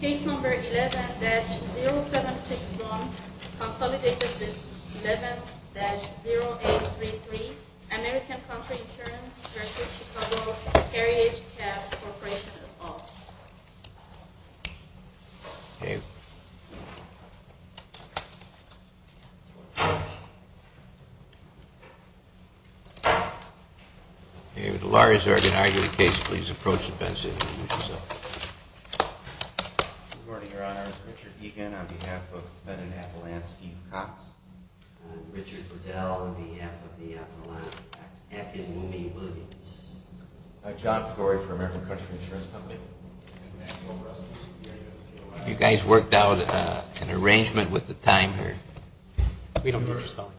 Case Number 11-0761, Consolidated List 11-0833, American Country Insurance, Chicago Carriage Cab Corporation, Los Alamos. David. David, the lawyer has already denied you the case. Please approach the bench and introduce yourself. Good morning, Your Honor. I'm Richard Egan on behalf of Fenton Appalachian Steve Cox. I'm Richard Liddell on behalf of the Appalachian, Appalachian Mooney Williams. I'm John Pecori for American Country Insurance Company. You guys worked out an arrangement with the time here? We don't need your spelling.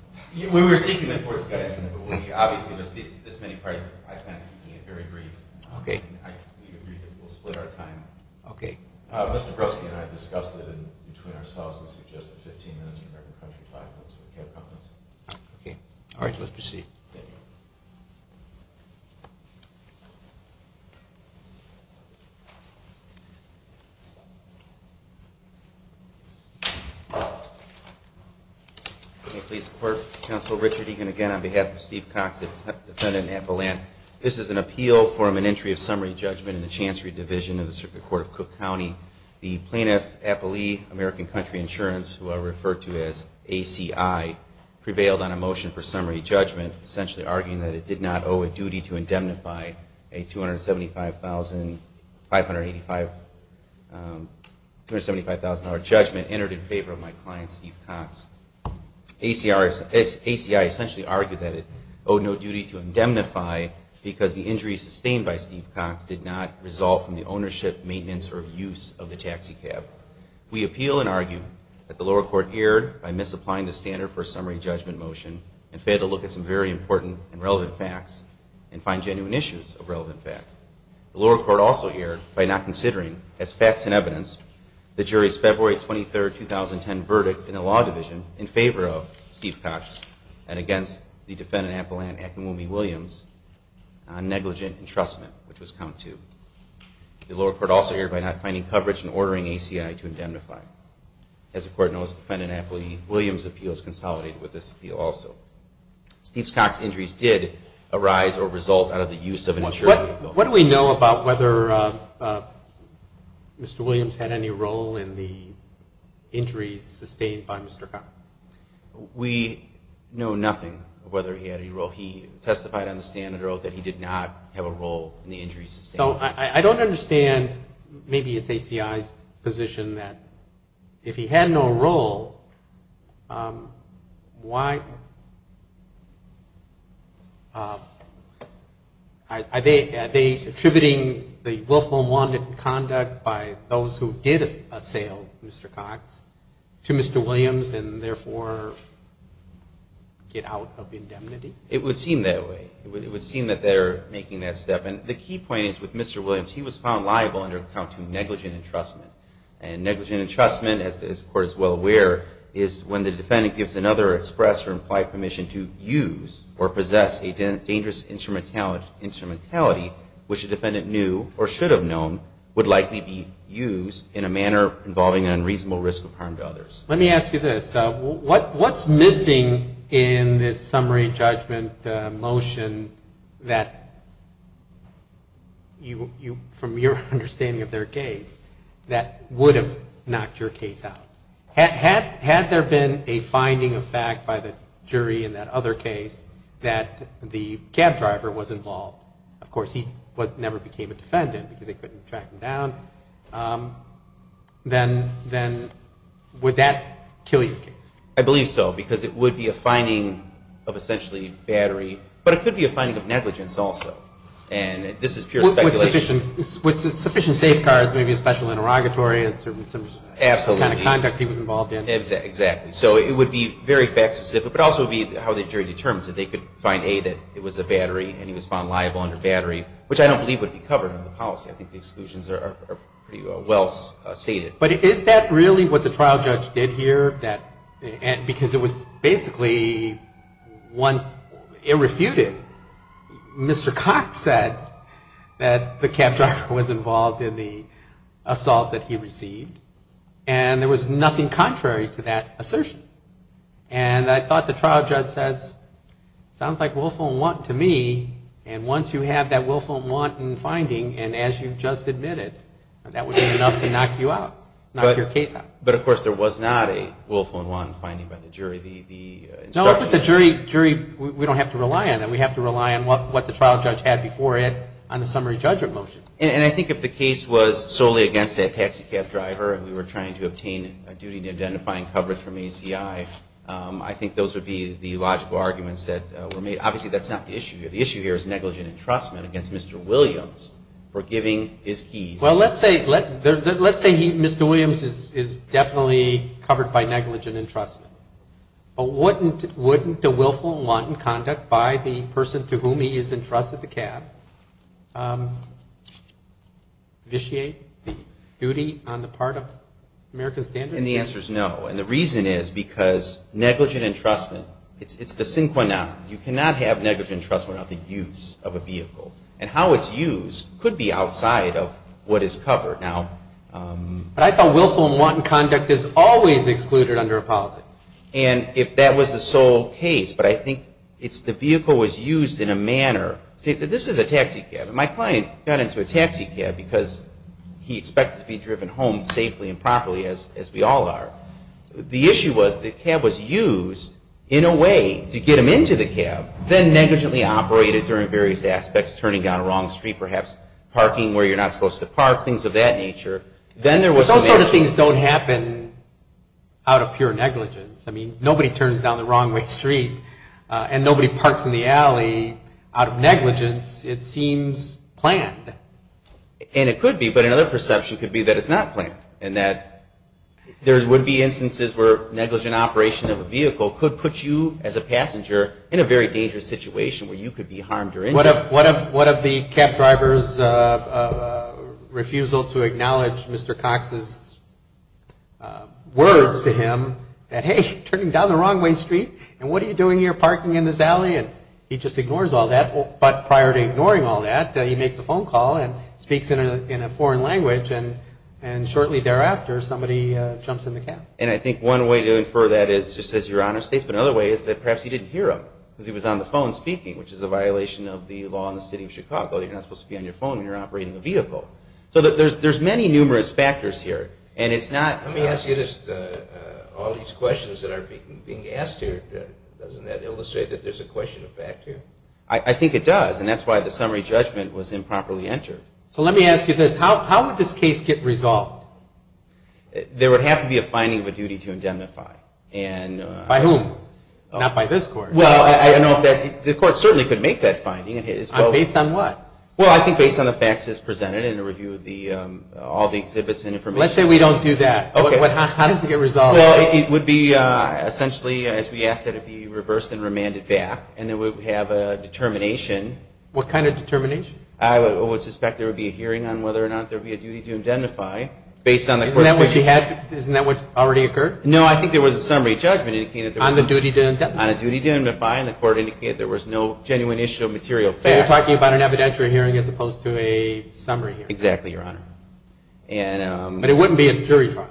We were seeking that for discussion, but we obviously, with this many parties, I plan on keeping it very brief. Okay. I completely agree that we'll split our time. Okay. Mr. Bruski and I discussed it, and between ourselves, we suggest that 15 minutes for American Country, five minutes for the cab companies. Okay. All right, let's proceed. Thank you. Thank you. May it please the Court, Counsel Richard Egan again on behalf of Steve Cox, a defendant in Appalachian. This is an appeal for an entry of summary judgment in the Chancery Division of the Circuit Court of Cook County. The plaintiff, Appalee, American Country Insurance, who I refer to as ACI, prevailed on a motion for summary judgment, essentially arguing that it did not owe a duty to indemnify a $275,000 judgment entered in favor of my client, Steve Cox. ACI essentially argued that it owed no duty to indemnify because the injuries sustained by Steve Cox did not resolve from the ownership, maintenance, or use of the taxi cab. We appeal and argue that the lower court erred by misapplying the standard for a summary judgment motion and failed to look at some very important and relevant facts and find genuine issues of relevant fact. The lower court also erred by not considering, as facts and evidence, the jury's February 23, 2010, verdict in the Law Division in favor of Steve Cox and against the defendant, Appalaine Akamumi Williams, on negligent entrustment, which was count two. The lower court also erred by not finding coverage and ordering ACI to indemnify. As the court noticed, defendant Appalaine Williams' appeal is consolidated with this appeal also. Steve Cox's injuries did arise or result out of the use of an insurance. What do we know about whether Mr. Williams had any role in the injuries sustained by Mr. Cox? We know nothing of whether he had any role. Although he testified on the standard oath that he did not have a role in the injuries sustained. So I don't understand, maybe it's ACI's position that if he had no role, why... Are they attributing the willful and wanted conduct by those who did assail Mr. Cox to Mr. Williams and therefore get out of indemnity? It would seem that way. It would seem that they're making that step. And the key point is with Mr. Williams, he was found liable under count two negligent entrustment. And negligent entrustment, as the court is well aware, is when the defendant gives another express or implied permission to use or possess a dangerous instrumentality which a defendant knew or should have known would likely be used in a manner involving an unreasonable risk of harm to others. Let me ask you this. What's missing in this summary judgment motion that, from your understanding of their case, that would have knocked your case out? Had there been a finding of fact by the jury in that other case that the cab driver was involved? Of course, he never became a defendant because they couldn't track him down. Then would that kill your case? I believe so, because it would be a finding of essentially battery, but it could be a finding of negligence also. And this is pure speculation. With sufficient safeguards, maybe a special interrogatory, some kind of conduct he was involved in. Exactly. So it would be very fact specific, but also it would be how the jury determines it. They could find, A, that it was a battery and he was found liable under battery, which I don't believe would be covered under the policy. I think the exclusions are pretty well stated. But is that really what the trial judge did here? Because it was basically one irrefuted. Mr. Cox said that the cab driver was involved in the assault that he received. And there was nothing contrary to that assertion. And I thought the trial judge says, sounds like willful and wanton to me. And once you have that willful and wanton finding, and as you just admitted, that would be enough to knock you out. Knock your case out. But of course there was not a willful and wanton finding by the jury. No, but the jury, we don't have to rely on that. We have to rely on what the trial judge had before it on the summary judgment motion. And I think if the case was solely against that taxi cab driver and we were trying to obtain a duty to identifying coverage from ACI, I think those would be the logical arguments that were made. Obviously that's not the issue here. The issue here is negligent entrustment against Mr. Williams for giving his keys. Well, let's say Mr. Williams is definitely covered by negligent entrustment. But wouldn't the willful and wanton conduct by the person to whom he is entrusted the cab vitiate the duty on the part of American Standard? And the answer is no. And the reason is because negligent entrustment, it's the synchronic. You cannot have negligent entrustment on the use of a vehicle. And how it's used could be outside of what is covered. But I thought willful and wanton conduct is always excluded under a policy. And if that was the sole case, but I think it's the vehicle was used in a manner. This is a taxi cab. And my client got into a taxi cab because he expected to be driven home safely and properly as we all are. The issue was the cab was used in a way to get him into the cab, then negligently operated during various aspects, turning down a wrong street, perhaps parking where you're not supposed to park, things of that nature. But those sort of things don't happen out of pure negligence. I mean, nobody turns down the wrong way street and nobody parks in the alley out of negligence. It seems planned. And it could be, but another perception could be that it's not planned and that there would be instances where negligent operation of a vehicle could put you as a passenger in a very dangerous situation where you could be harmed or injured. What of the cab driver's refusal to acknowledge Mr. Cox's words to him that, hey, you're turning down the wrong way street and what are you doing here parking in this alley? And he just ignores all that. But prior to ignoring all that, he makes a phone call and speaks in a foreign language. And shortly thereafter, somebody jumps in the cab. And I think one way to infer that is just as your Honor states, but another way is that perhaps he didn't hear him because he was on the phone speaking, which is a violation of the law in the city of Chicago. You're not supposed to be on your phone when you're operating a vehicle. So there's many numerous factors here. Let me ask you this. All these questions that are being asked here, doesn't that illustrate that there's a question of fact here? I think it does. And that's why the summary judgment was improperly entered. So let me ask you this. How would this case get resolved? There would have to be a finding of a duty to indemnify. By whom? Not by this Court. Well, the Court certainly could make that finding. Based on what? Well, I think based on the facts as presented in the review of all the exhibits and information. Let's say we don't do that. How does it get resolved? Well, it would be essentially as we asked that it be reversed and remanded back. And then we would have a determination. What kind of determination? I would suspect there would be a hearing on whether or not there would be a duty to indemnify. Isn't that what already occurred? No, I think there was a summary judgment. On the duty to indemnify? On the duty to indemnify, and the Court indicated there was no genuine issue of material fact. So you're talking about an evidentiary hearing as opposed to a summary hearing? Exactly, Your Honor. But it wouldn't be a jury trial?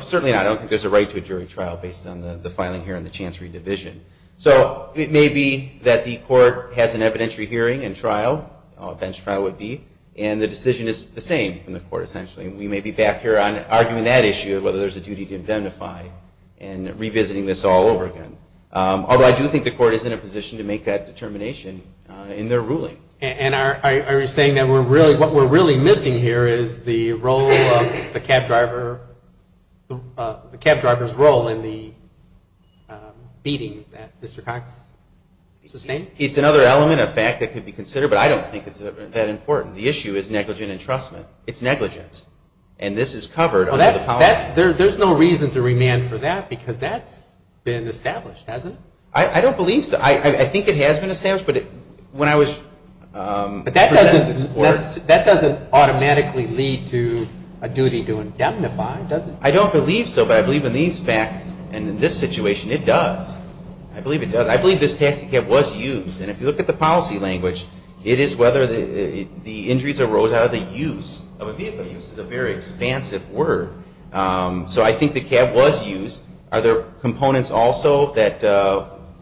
Certainly not. I don't think there's a right to a jury trial based on the filing here and the chance re-division. So it may be that the Court has an evidentiary hearing and trial, a bench trial would be, and the decision is the same from the Court essentially. We may be back here arguing that issue of whether there's a duty to indemnify and revisiting this all over again. Although I do think the Court is in a position to make that determination in their ruling. And are you saying that what we're really missing here is the role of the cab driver's role in the beatings that Mr. Cox sustained? It's another element of fact that could be considered, but I don't think it's that important. The issue is negligent entrustment. It's negligence. And this is covered under the policy. There's no reason to remand for that because that's been established, hasn't it? I don't believe so. I think it has been established. But that doesn't automatically lead to a duty to indemnify, does it? I don't believe so, but I believe in these facts and in this situation, it does. I believe it does. I believe this taxi cab was used. And if you look at the policy language, it is whether the injuries arose out of the use of a vehicle. Use is a very expansive word. So I think the cab was used. Are there components also that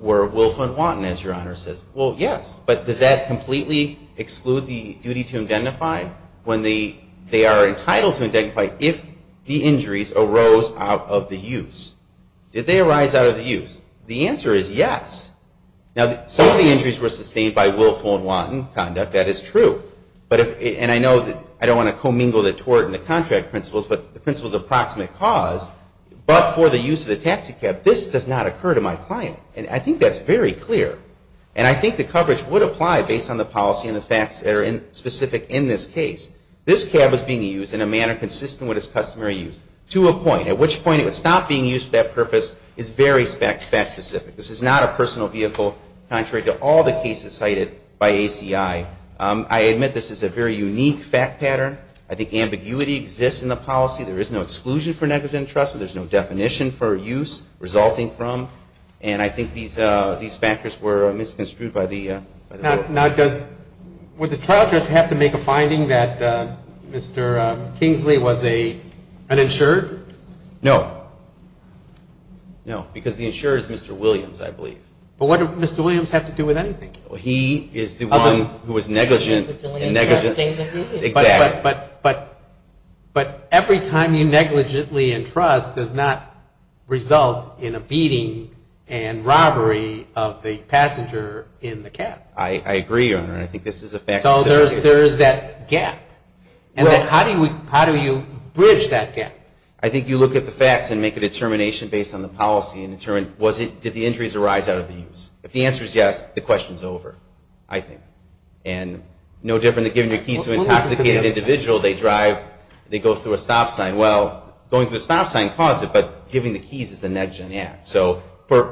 were willful and wanton, as Your Honor says? Well, yes. But does that completely exclude the duty to indemnify when they are entitled to indemnify if the injuries arose out of the use? Did they arise out of the use? The answer is yes. Now, some of the injuries were sustained by willful and wanton conduct. That is true. And I know that I don't want to commingle the tort and the contract principles, but the principle is approximate cause. But for the use of the taxi cab, this does not occur to my client. And I think that's very clear. And I think the coverage would apply based on the policy and the facts that are specific in this case. This cab was being used in a manner consistent with its customary use to a point. At which point it would stop being used for that purpose is very fact specific. This is not a personal vehicle, contrary to all the cases cited by ACI. I admit this is a very unique fact pattern. I think ambiguity exists in the policy. There is no exclusion for negligent entrustment. There is no definition for use resulting from. And I think these factors were misconstrued by the court. Now, does, would the child judge have to make a finding that Mr. Kingsley was an insured? No. No, because the insurer is Mr. Williams, I believe. But what did Mr. Williams have to do with anything? He is the one who was negligent. But every time you negligently entrust does not result in a beating and robbery of the passenger in the cab. I agree, Your Honor. So there is that gap. How do you bridge that gap? I think you look at the facts and make a determination based on the policy and determine did the injuries arise out of the use. If the answer is yes, the question is over, I think. And no different than giving your keys to an intoxicated individual, they go through a stop sign. Well, going through a stop sign caused it, but giving the keys is a negligent act. So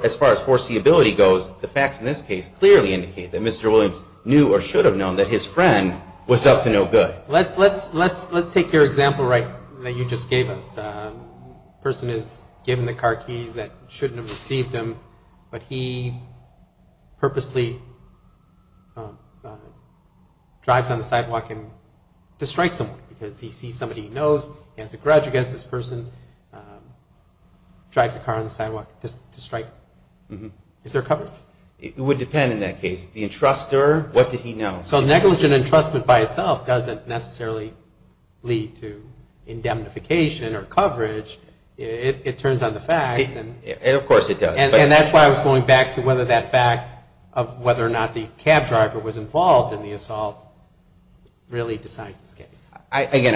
as far as foreseeability goes, the facts in this case clearly indicate that Mr. Williams knew or should have known that his friend was up to no good. Let's take your example that you just gave us. A person is given the car keys that shouldn't have received him, but he purposely drives on the sidewalk to strike someone. Because he sees somebody he knows, he has a grudge against this person, drives the car on the sidewalk to strike. Is there coverage? It would depend in that case. The entrustor, what did he know? So negligent entrustment by itself doesn't necessarily lead to indemnification or coverage. It turns on the facts. Of course it does. And that's why I was going back to whether that fact of whether or not the cab driver was involved in the assault really decides this case. Again,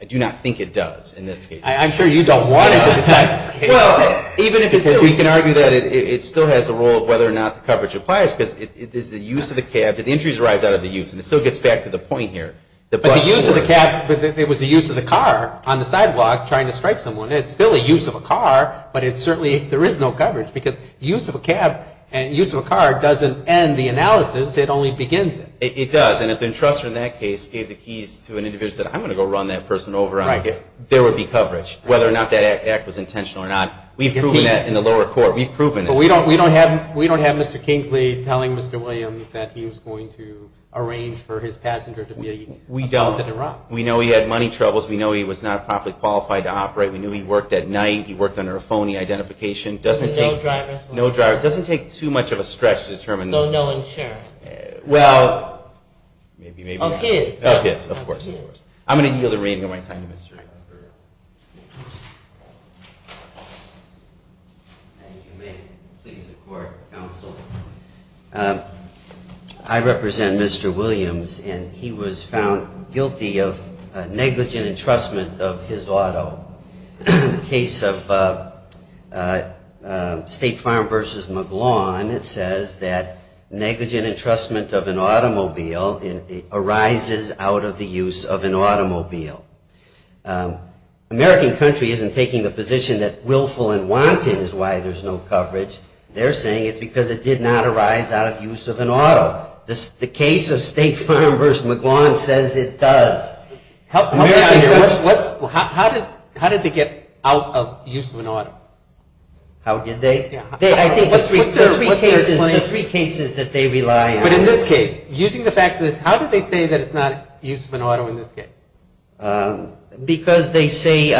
I do not think it does in this case. I'm sure you don't want it to decide this case. Well, even if it did, we can argue that it still has a role of whether or not the coverage applies, because it is the use of the cab. The injuries arise out of the use, and it still gets back to the point here. But the use of the cab, it was the use of the car on the sidewalk trying to strike someone. It's still a use of a car, but certainly there is no coverage, because use of a cab and use of a car doesn't end the analysis. It only begins it. It does, and if the entrustor in that case gave the keys to an individual and said, I'm going to go run that person over, there would be coverage, whether or not that act was intentional or not. We've proven that in the lower court. We've proven it. But we don't have Mr. Kingsley telling Mr. Williams that he was going to arrange for his passenger to be assaulted and robbed. We don't. We know he had money troubles. We know he was not properly qualified to operate. We know he worked at night. He worked under a phony identification. Doesn't take too much of a stretch to determine. Of his, of course. I'm going to yield the reign of my time to Mr. Eckert. If you may, please support counsel. I represent Mr. Williams, and he was found guilty of negligent entrustment of his auto. In the case of State Farm versus McGlawn, it says that negligent entrustment of an automobile arises out of the use of a car. American country isn't taking the position that willful and wanton is why there's no coverage. They're saying it's because it did not arise out of use of an auto. The case of State Farm versus McGlawn says it does. How did they get out of use of an auto? The three cases that they rely on. But in this case, using the facts of this, how did they say it's not use of an auto in this case? Because they say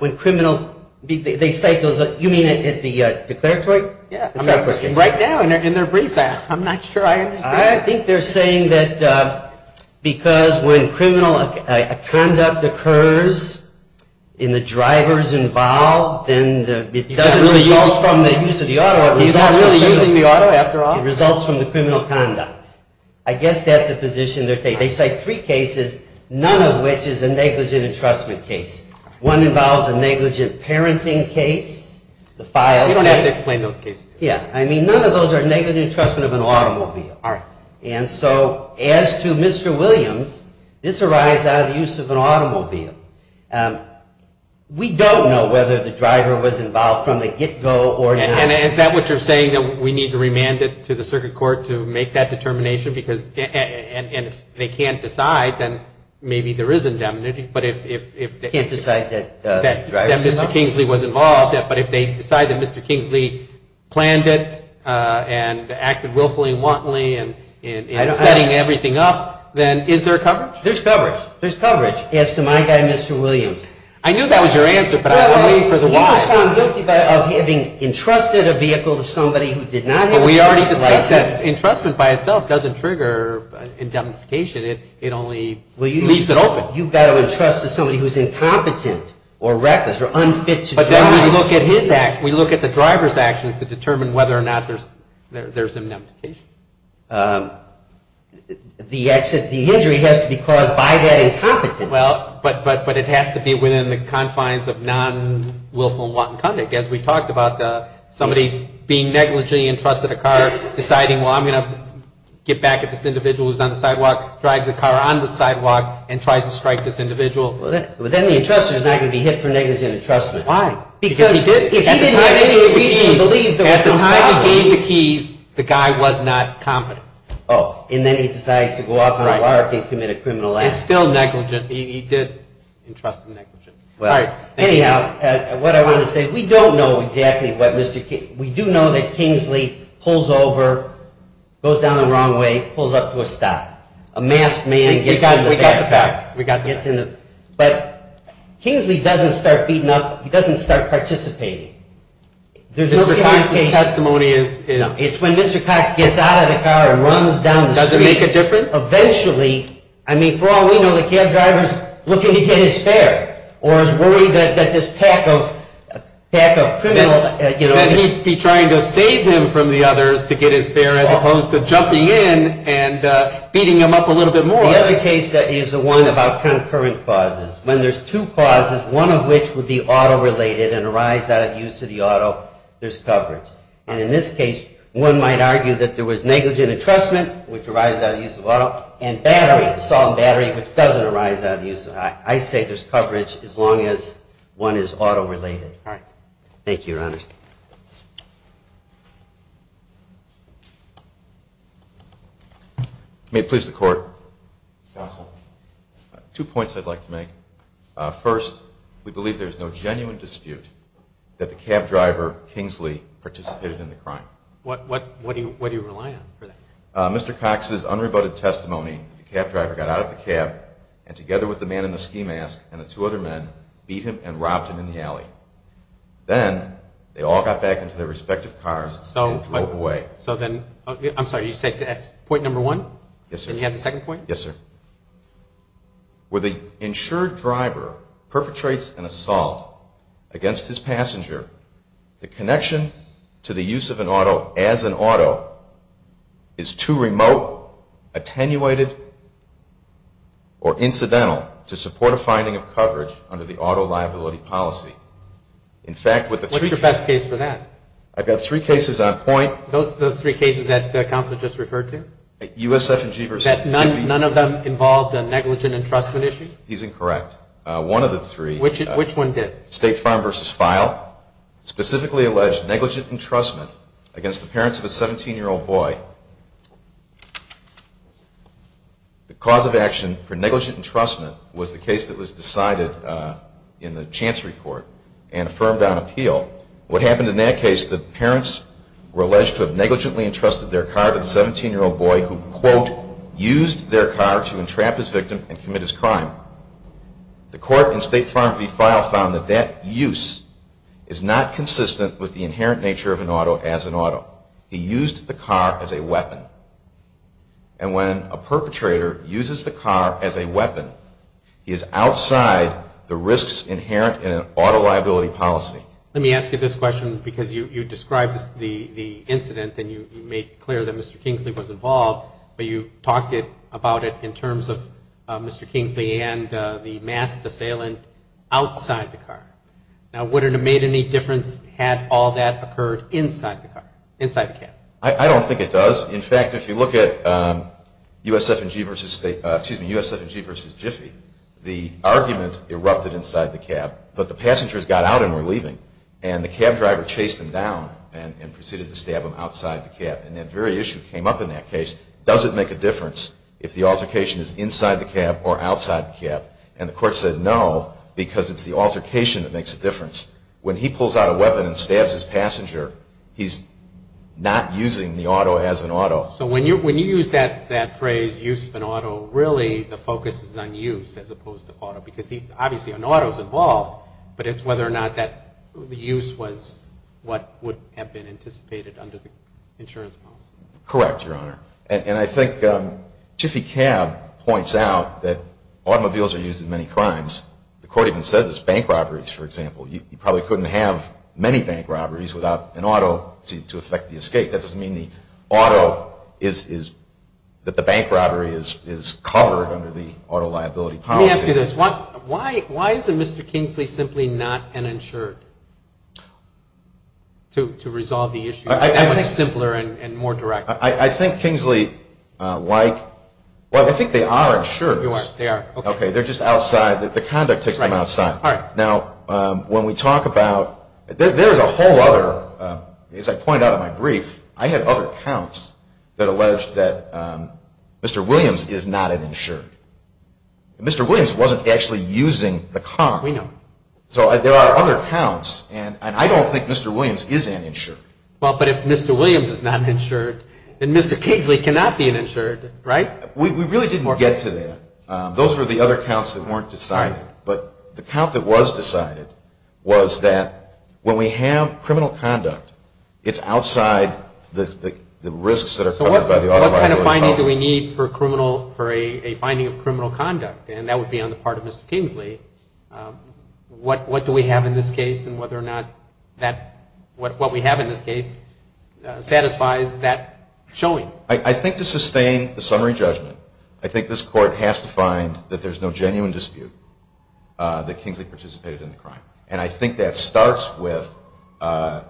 when criminal, they cite those, you mean at the declaratory? Right now in their brief, I'm not sure I understand. I think they're saying that because when criminal conduct occurs in the drivers involved, then it doesn't really result from the use of the auto. It results from the criminal conduct. I guess that's the position they're taking. They cite three cases, none of which is a negligent entrustment case. One involves a negligent parenting case. None of those are negligent entrustment of an automobile. And so as to Mr. Williams, this arises out of the use of an automobile. We don't know whether the driver was involved from the get go or not. And is that what you're saying, that we need to remand it to the circuit court to make that determination? Because if they can't decide, then maybe there is indemnity. But if they can't decide that Mr. Kingsley was involved, but if they decide that Mr. Kingsley planned it and acted willfully and wantonly, and setting everything up, then is there coverage? There's coverage. There's coverage as to my guy, Mr. Williams. I knew that was your answer, but I'm waiting for the why. He was found guilty of having entrusted a vehicle to somebody who did not have a license. The injury has to be caused by that incompetence. But it has to be within the confines of non-willful and wanton conduct. As we talked about, somebody being negligently entrusted a car, deciding, well, I'm going to get back at this individual who's on the sidewalk, drives the car on the sidewalk, and tries to strike this individual. Then the entrustor is not going to be hit for negligent entrustment. Why? Because at the time he gave the keys, the guy was not competent. And then he decides to go off on a lark and commit a criminal act. It's still negligent. He did entrust negligent. Well, anyhow, what I wanted to say is we don't know exactly what Mr. King'sly, we do know that Kingsley pulls over, goes down the wrong way, pulls up to a stop. A masked man gets in the back. Kingsley doesn't start beating up, he doesn't start participating. It's when Mr. Cox gets out of the car and runs down the street, eventually, I mean, for all we know, the cab driver's looking to get his fare or is worried that this pack of criminal... That he'd be trying to save him from the others to get his fare as opposed to jumping in and beating him up a little bit more. The other case is the one about concurrent causes. When there's two causes, one of which would be auto-related and arise out of use of the auto, there's coverage. And in this case, one might argue that there was negligent entrustment, which arises out of use of auto, and battery, assault and battery, which doesn't arise out of use. I say there's coverage as long as one is auto-related. Thank you, Your Honor. May it please the Court. Counsel, two points I'd like to make. First, we believe there's no genuine dispute that the cab driver, Kingsley, participated in the crime. What do you rely on for that? Mr. Cox's unrebutted testimony, the cab driver got out of the cab and, together with the man in the ski mask and the two other men, beat him and robbed him in the alley. Then they all got back into their respective cars and drove away. I'm sorry, you said that's point number one? Yes, sir. Where the insured driver perpetrates an assault against his passenger, the connection to the use of an auto as an auto is too remote, attenuated or incidental to support a finding of coverage under the auto liability policy. What's your best case for that? I've got three cases on point. None of them involved a negligent entrustment issue? He's incorrect. One of the three, State Farm v. File, specifically alleged negligent entrustment against the parents of a 17-year-old boy. The cause of action for negligent entrustment was the case that was decided in the Chancery Court and affirmed on appeal. What happened in that case, the parents were alleged to have negligently entrusted their car to the 17-year-old boy who, quote, used their car to entrap his victim and commit his crime. The court in State Farm v. File found that that use is not consistent with the inherent nature of an auto as an auto. He used the car as a weapon. And when a perpetrator uses the car as a weapon, he is outside the risks inherent in an auto liability policy. Let me ask you this question, because you described the incident and you made clear that Mr. Kingsley was involved, but you talked about it in terms of Mr. Kingsley being inside the car. Now, would it have made any difference had all that occurred inside the car, inside the cab? I don't think it does. In fact, if you look at USF&G v. Jiffy, the argument erupted inside the cab, but the passengers got out and were leaving. And the cab driver chased them down and proceeded to stab them outside the cab. And that very issue came up in that case. Does it make a difference if the altercation is inside the cab or outside the cab? And the court said no, because it's the altercation that makes a difference. When he pulls out a weapon and stabs his passenger, he's not using the auto as an auto. So when you use that phrase, use of an auto, really the focus is on use as opposed to auto. Because obviously an auto is involved, but it's whether or not the use was what would have been anticipated under the insurance policy. Correct, Your Honor. And I think Jiffy Cab points out that automobiles are used in many crimes. The court even said this. Bank robberies, for example. You probably couldn't have many bank robberies without an auto to effect the escape. That doesn't mean that the bank robbery is covered under the auto liability policy. Let me ask you this. Why isn't Mr. Kingsley simply not an insured to resolve the issue? That's simpler and more direct. I think Kingsley, like, well, I think they are insured. They're just outside. The conduct takes them outside. Now, when we talk about, there's a whole other, as I pointed out in my brief, I had other counts that alleged that Mr. Williams is not an insured. Mr. Williams wasn't actually using the car. So there are other counts, and I don't think Mr. Williams is an insured. Well, but if Mr. Williams is not an insured, then Mr. Kingsley cannot be an insured, right? We really didn't get to that. Those were the other counts that weren't decided. But the count that was decided was that when we have criminal conduct, it's outside the risks that are covered by the auto liability policy. So what kind of findings do we need for a finding of criminal conduct? And that would be on the part of Mr. Kingsley. What do we have in this case and whether or not what we have in this case satisfies that showing. I think to sustain the summary judgment, I think this court has to find that there's no genuine dispute that Kingsley participated in the crime. And I think that starts with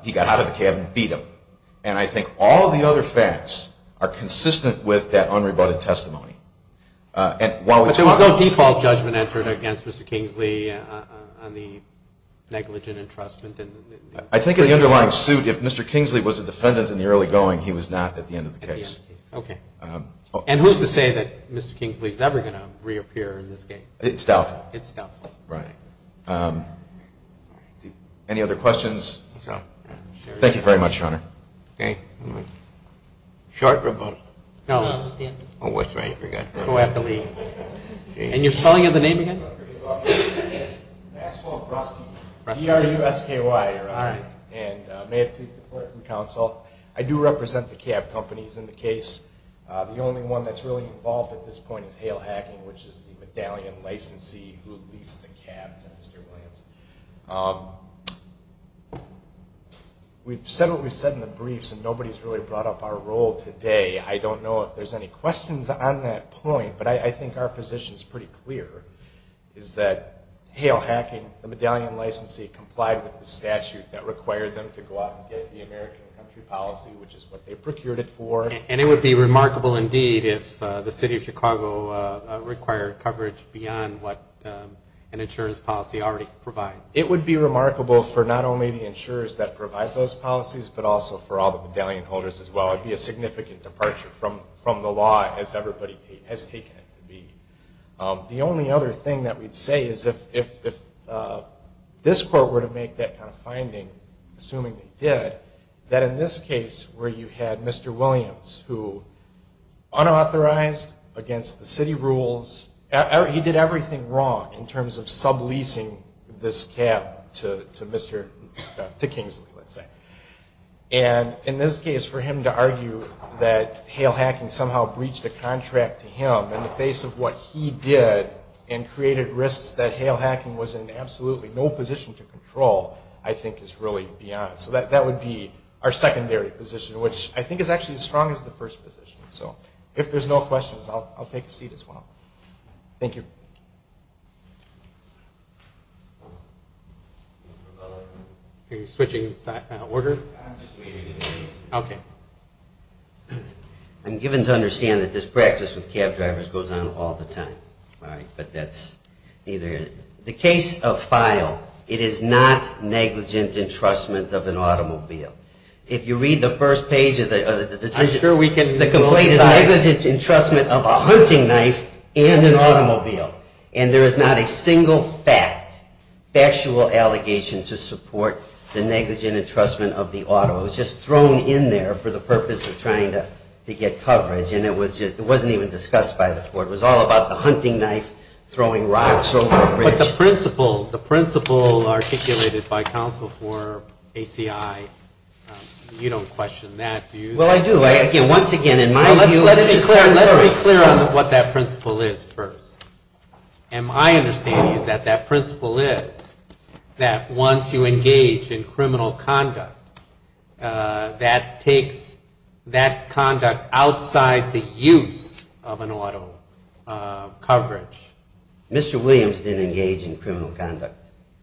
he got out of the cab and beat him. And I think all of the other facts are consistent with that unrebutted testimony. But there was no default judgment entered against Mr. Kingsley on the negligent entrustment? I think in the underlying suit, if Mr. Kingsley was a defendant in the early going, he was not at the end of the case. And who's to say that Mr. Kingsley is ever going to reappear in this case? It's doubtful. Any other questions? Thank you very much, Your Honor. I do represent the cab companies in the case. The only one that's really involved at this point is Hale Hacking, which is the medallion licensee who leased the cab to Mr. Williams. We've said what we've said in the briefs, and nobody's really brought up our role today. I don't know if there's any questions on that point, but I think our position is pretty clear, is that Hale Hacking, the medallion licensee, complied with the statute that required them to go out and get the American country policy, which is what they procured it for. And it would be remarkable indeed if the city of Chicago required coverage beyond what an insurance policy already provides. It would be remarkable for not only the insurers that provide those policies, but also for all the medallion holders as well. It would be a significant departure from the law as everybody has taken it to be. The only other thing that we'd say is if this court were to make that kind of finding, assuming they did, that in this case, where you had Mr. Williams, who unauthorized against the city rules, he did everything wrong in terms of subleasing this cab, to Kingsley, let's say. And in this case, for him to argue that Hale Hacking somehow breached a contract to him in the face of what he did and created risks that Hale Hacking was in absolutely no position to control, I think is really beyond. So that would be our secondary position, which I think is actually as strong as the first position. So if there's no questions, I'll take a seat as well. Thank you. I'm given to understand that this practice with cab drivers goes on all the time, right? But that's either the case of file, it is not negligent entrustment of an automobile. If you read the first page of the decision, the complaint is negligent entrustment of a hunting knife and an automobile. And there is not a single fact, factual allegation to support the negligent entrustment of the auto. It was just thrown in there for the purpose of trying to get coverage, and it wasn't even discussed by the court. It was all about the hunting knife throwing rocks over the bridge. But the principle, the principle articulated by counsel for ACI, you don't question that, do you? Well, I do. Again, once again, in my view, let's just be clear on what that principle is first. And my understanding is that that principle is that once you engage in criminal conduct, that takes that conduct outside the use of an auto coverage. Mr. Williams didn't engage in criminal conduct.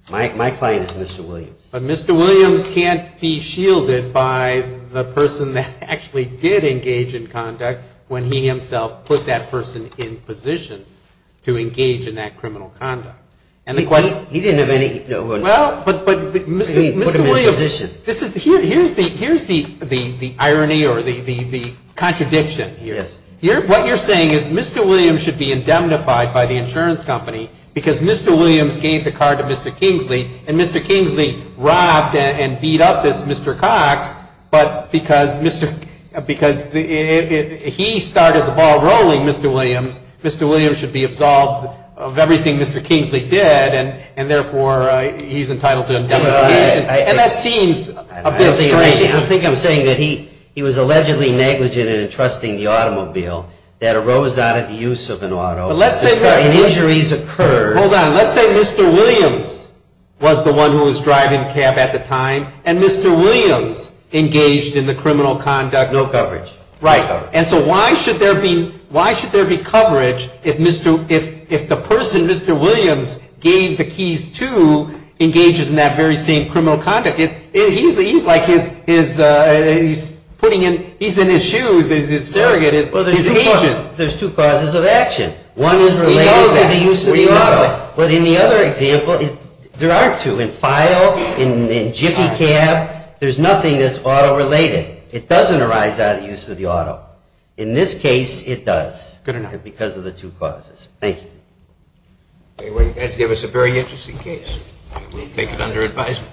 My client is Mr. Williams. But Mr. Williams can't be shielded by the person that actually did engage in conduct when he himself put that person in position to engage in criminal conduct. He didn't have any... Well, but Mr. Williams... He put him in position. Here's the irony or the contradiction here. Yes. What you're saying is Mr. Williams should be indemnified by the insurance company because Mr. Williams gave the car to Mr. Kingsley, and Mr. Kingsley robbed and beat up this Mr. Cox, but because he started the ball rolling, Mr. Williams, Mr. Williams should be absolved of the charge. He should be absolved of everything Mr. Kingsley did, and therefore he's entitled to indemnification. And that seems a bit strange. I think I'm saying that he was allegedly negligent in entrusting the automobile that arose out of the use of an auto. But let's say Mr. Williams... Hold on. Let's say Mr. Williams was the one who was driving the cab at the time, and Mr. Williams engaged in the criminal conduct... No coverage. Right. And so why should there be coverage if the person Mr. Williams gave the keys to engages in that very same criminal conduct? He's like his... He's in his shoes, his surrogate, his agent. There's two causes of action. One is related to the use of the auto. But in the other example, there are two. In file, in Jiffy Cab, there's nothing that's auto-related. It doesn't arise out of the use of the auto. In this case, it does, because of the two causes. Thank you. You guys gave us a very interesting case. We'll take it under advisement.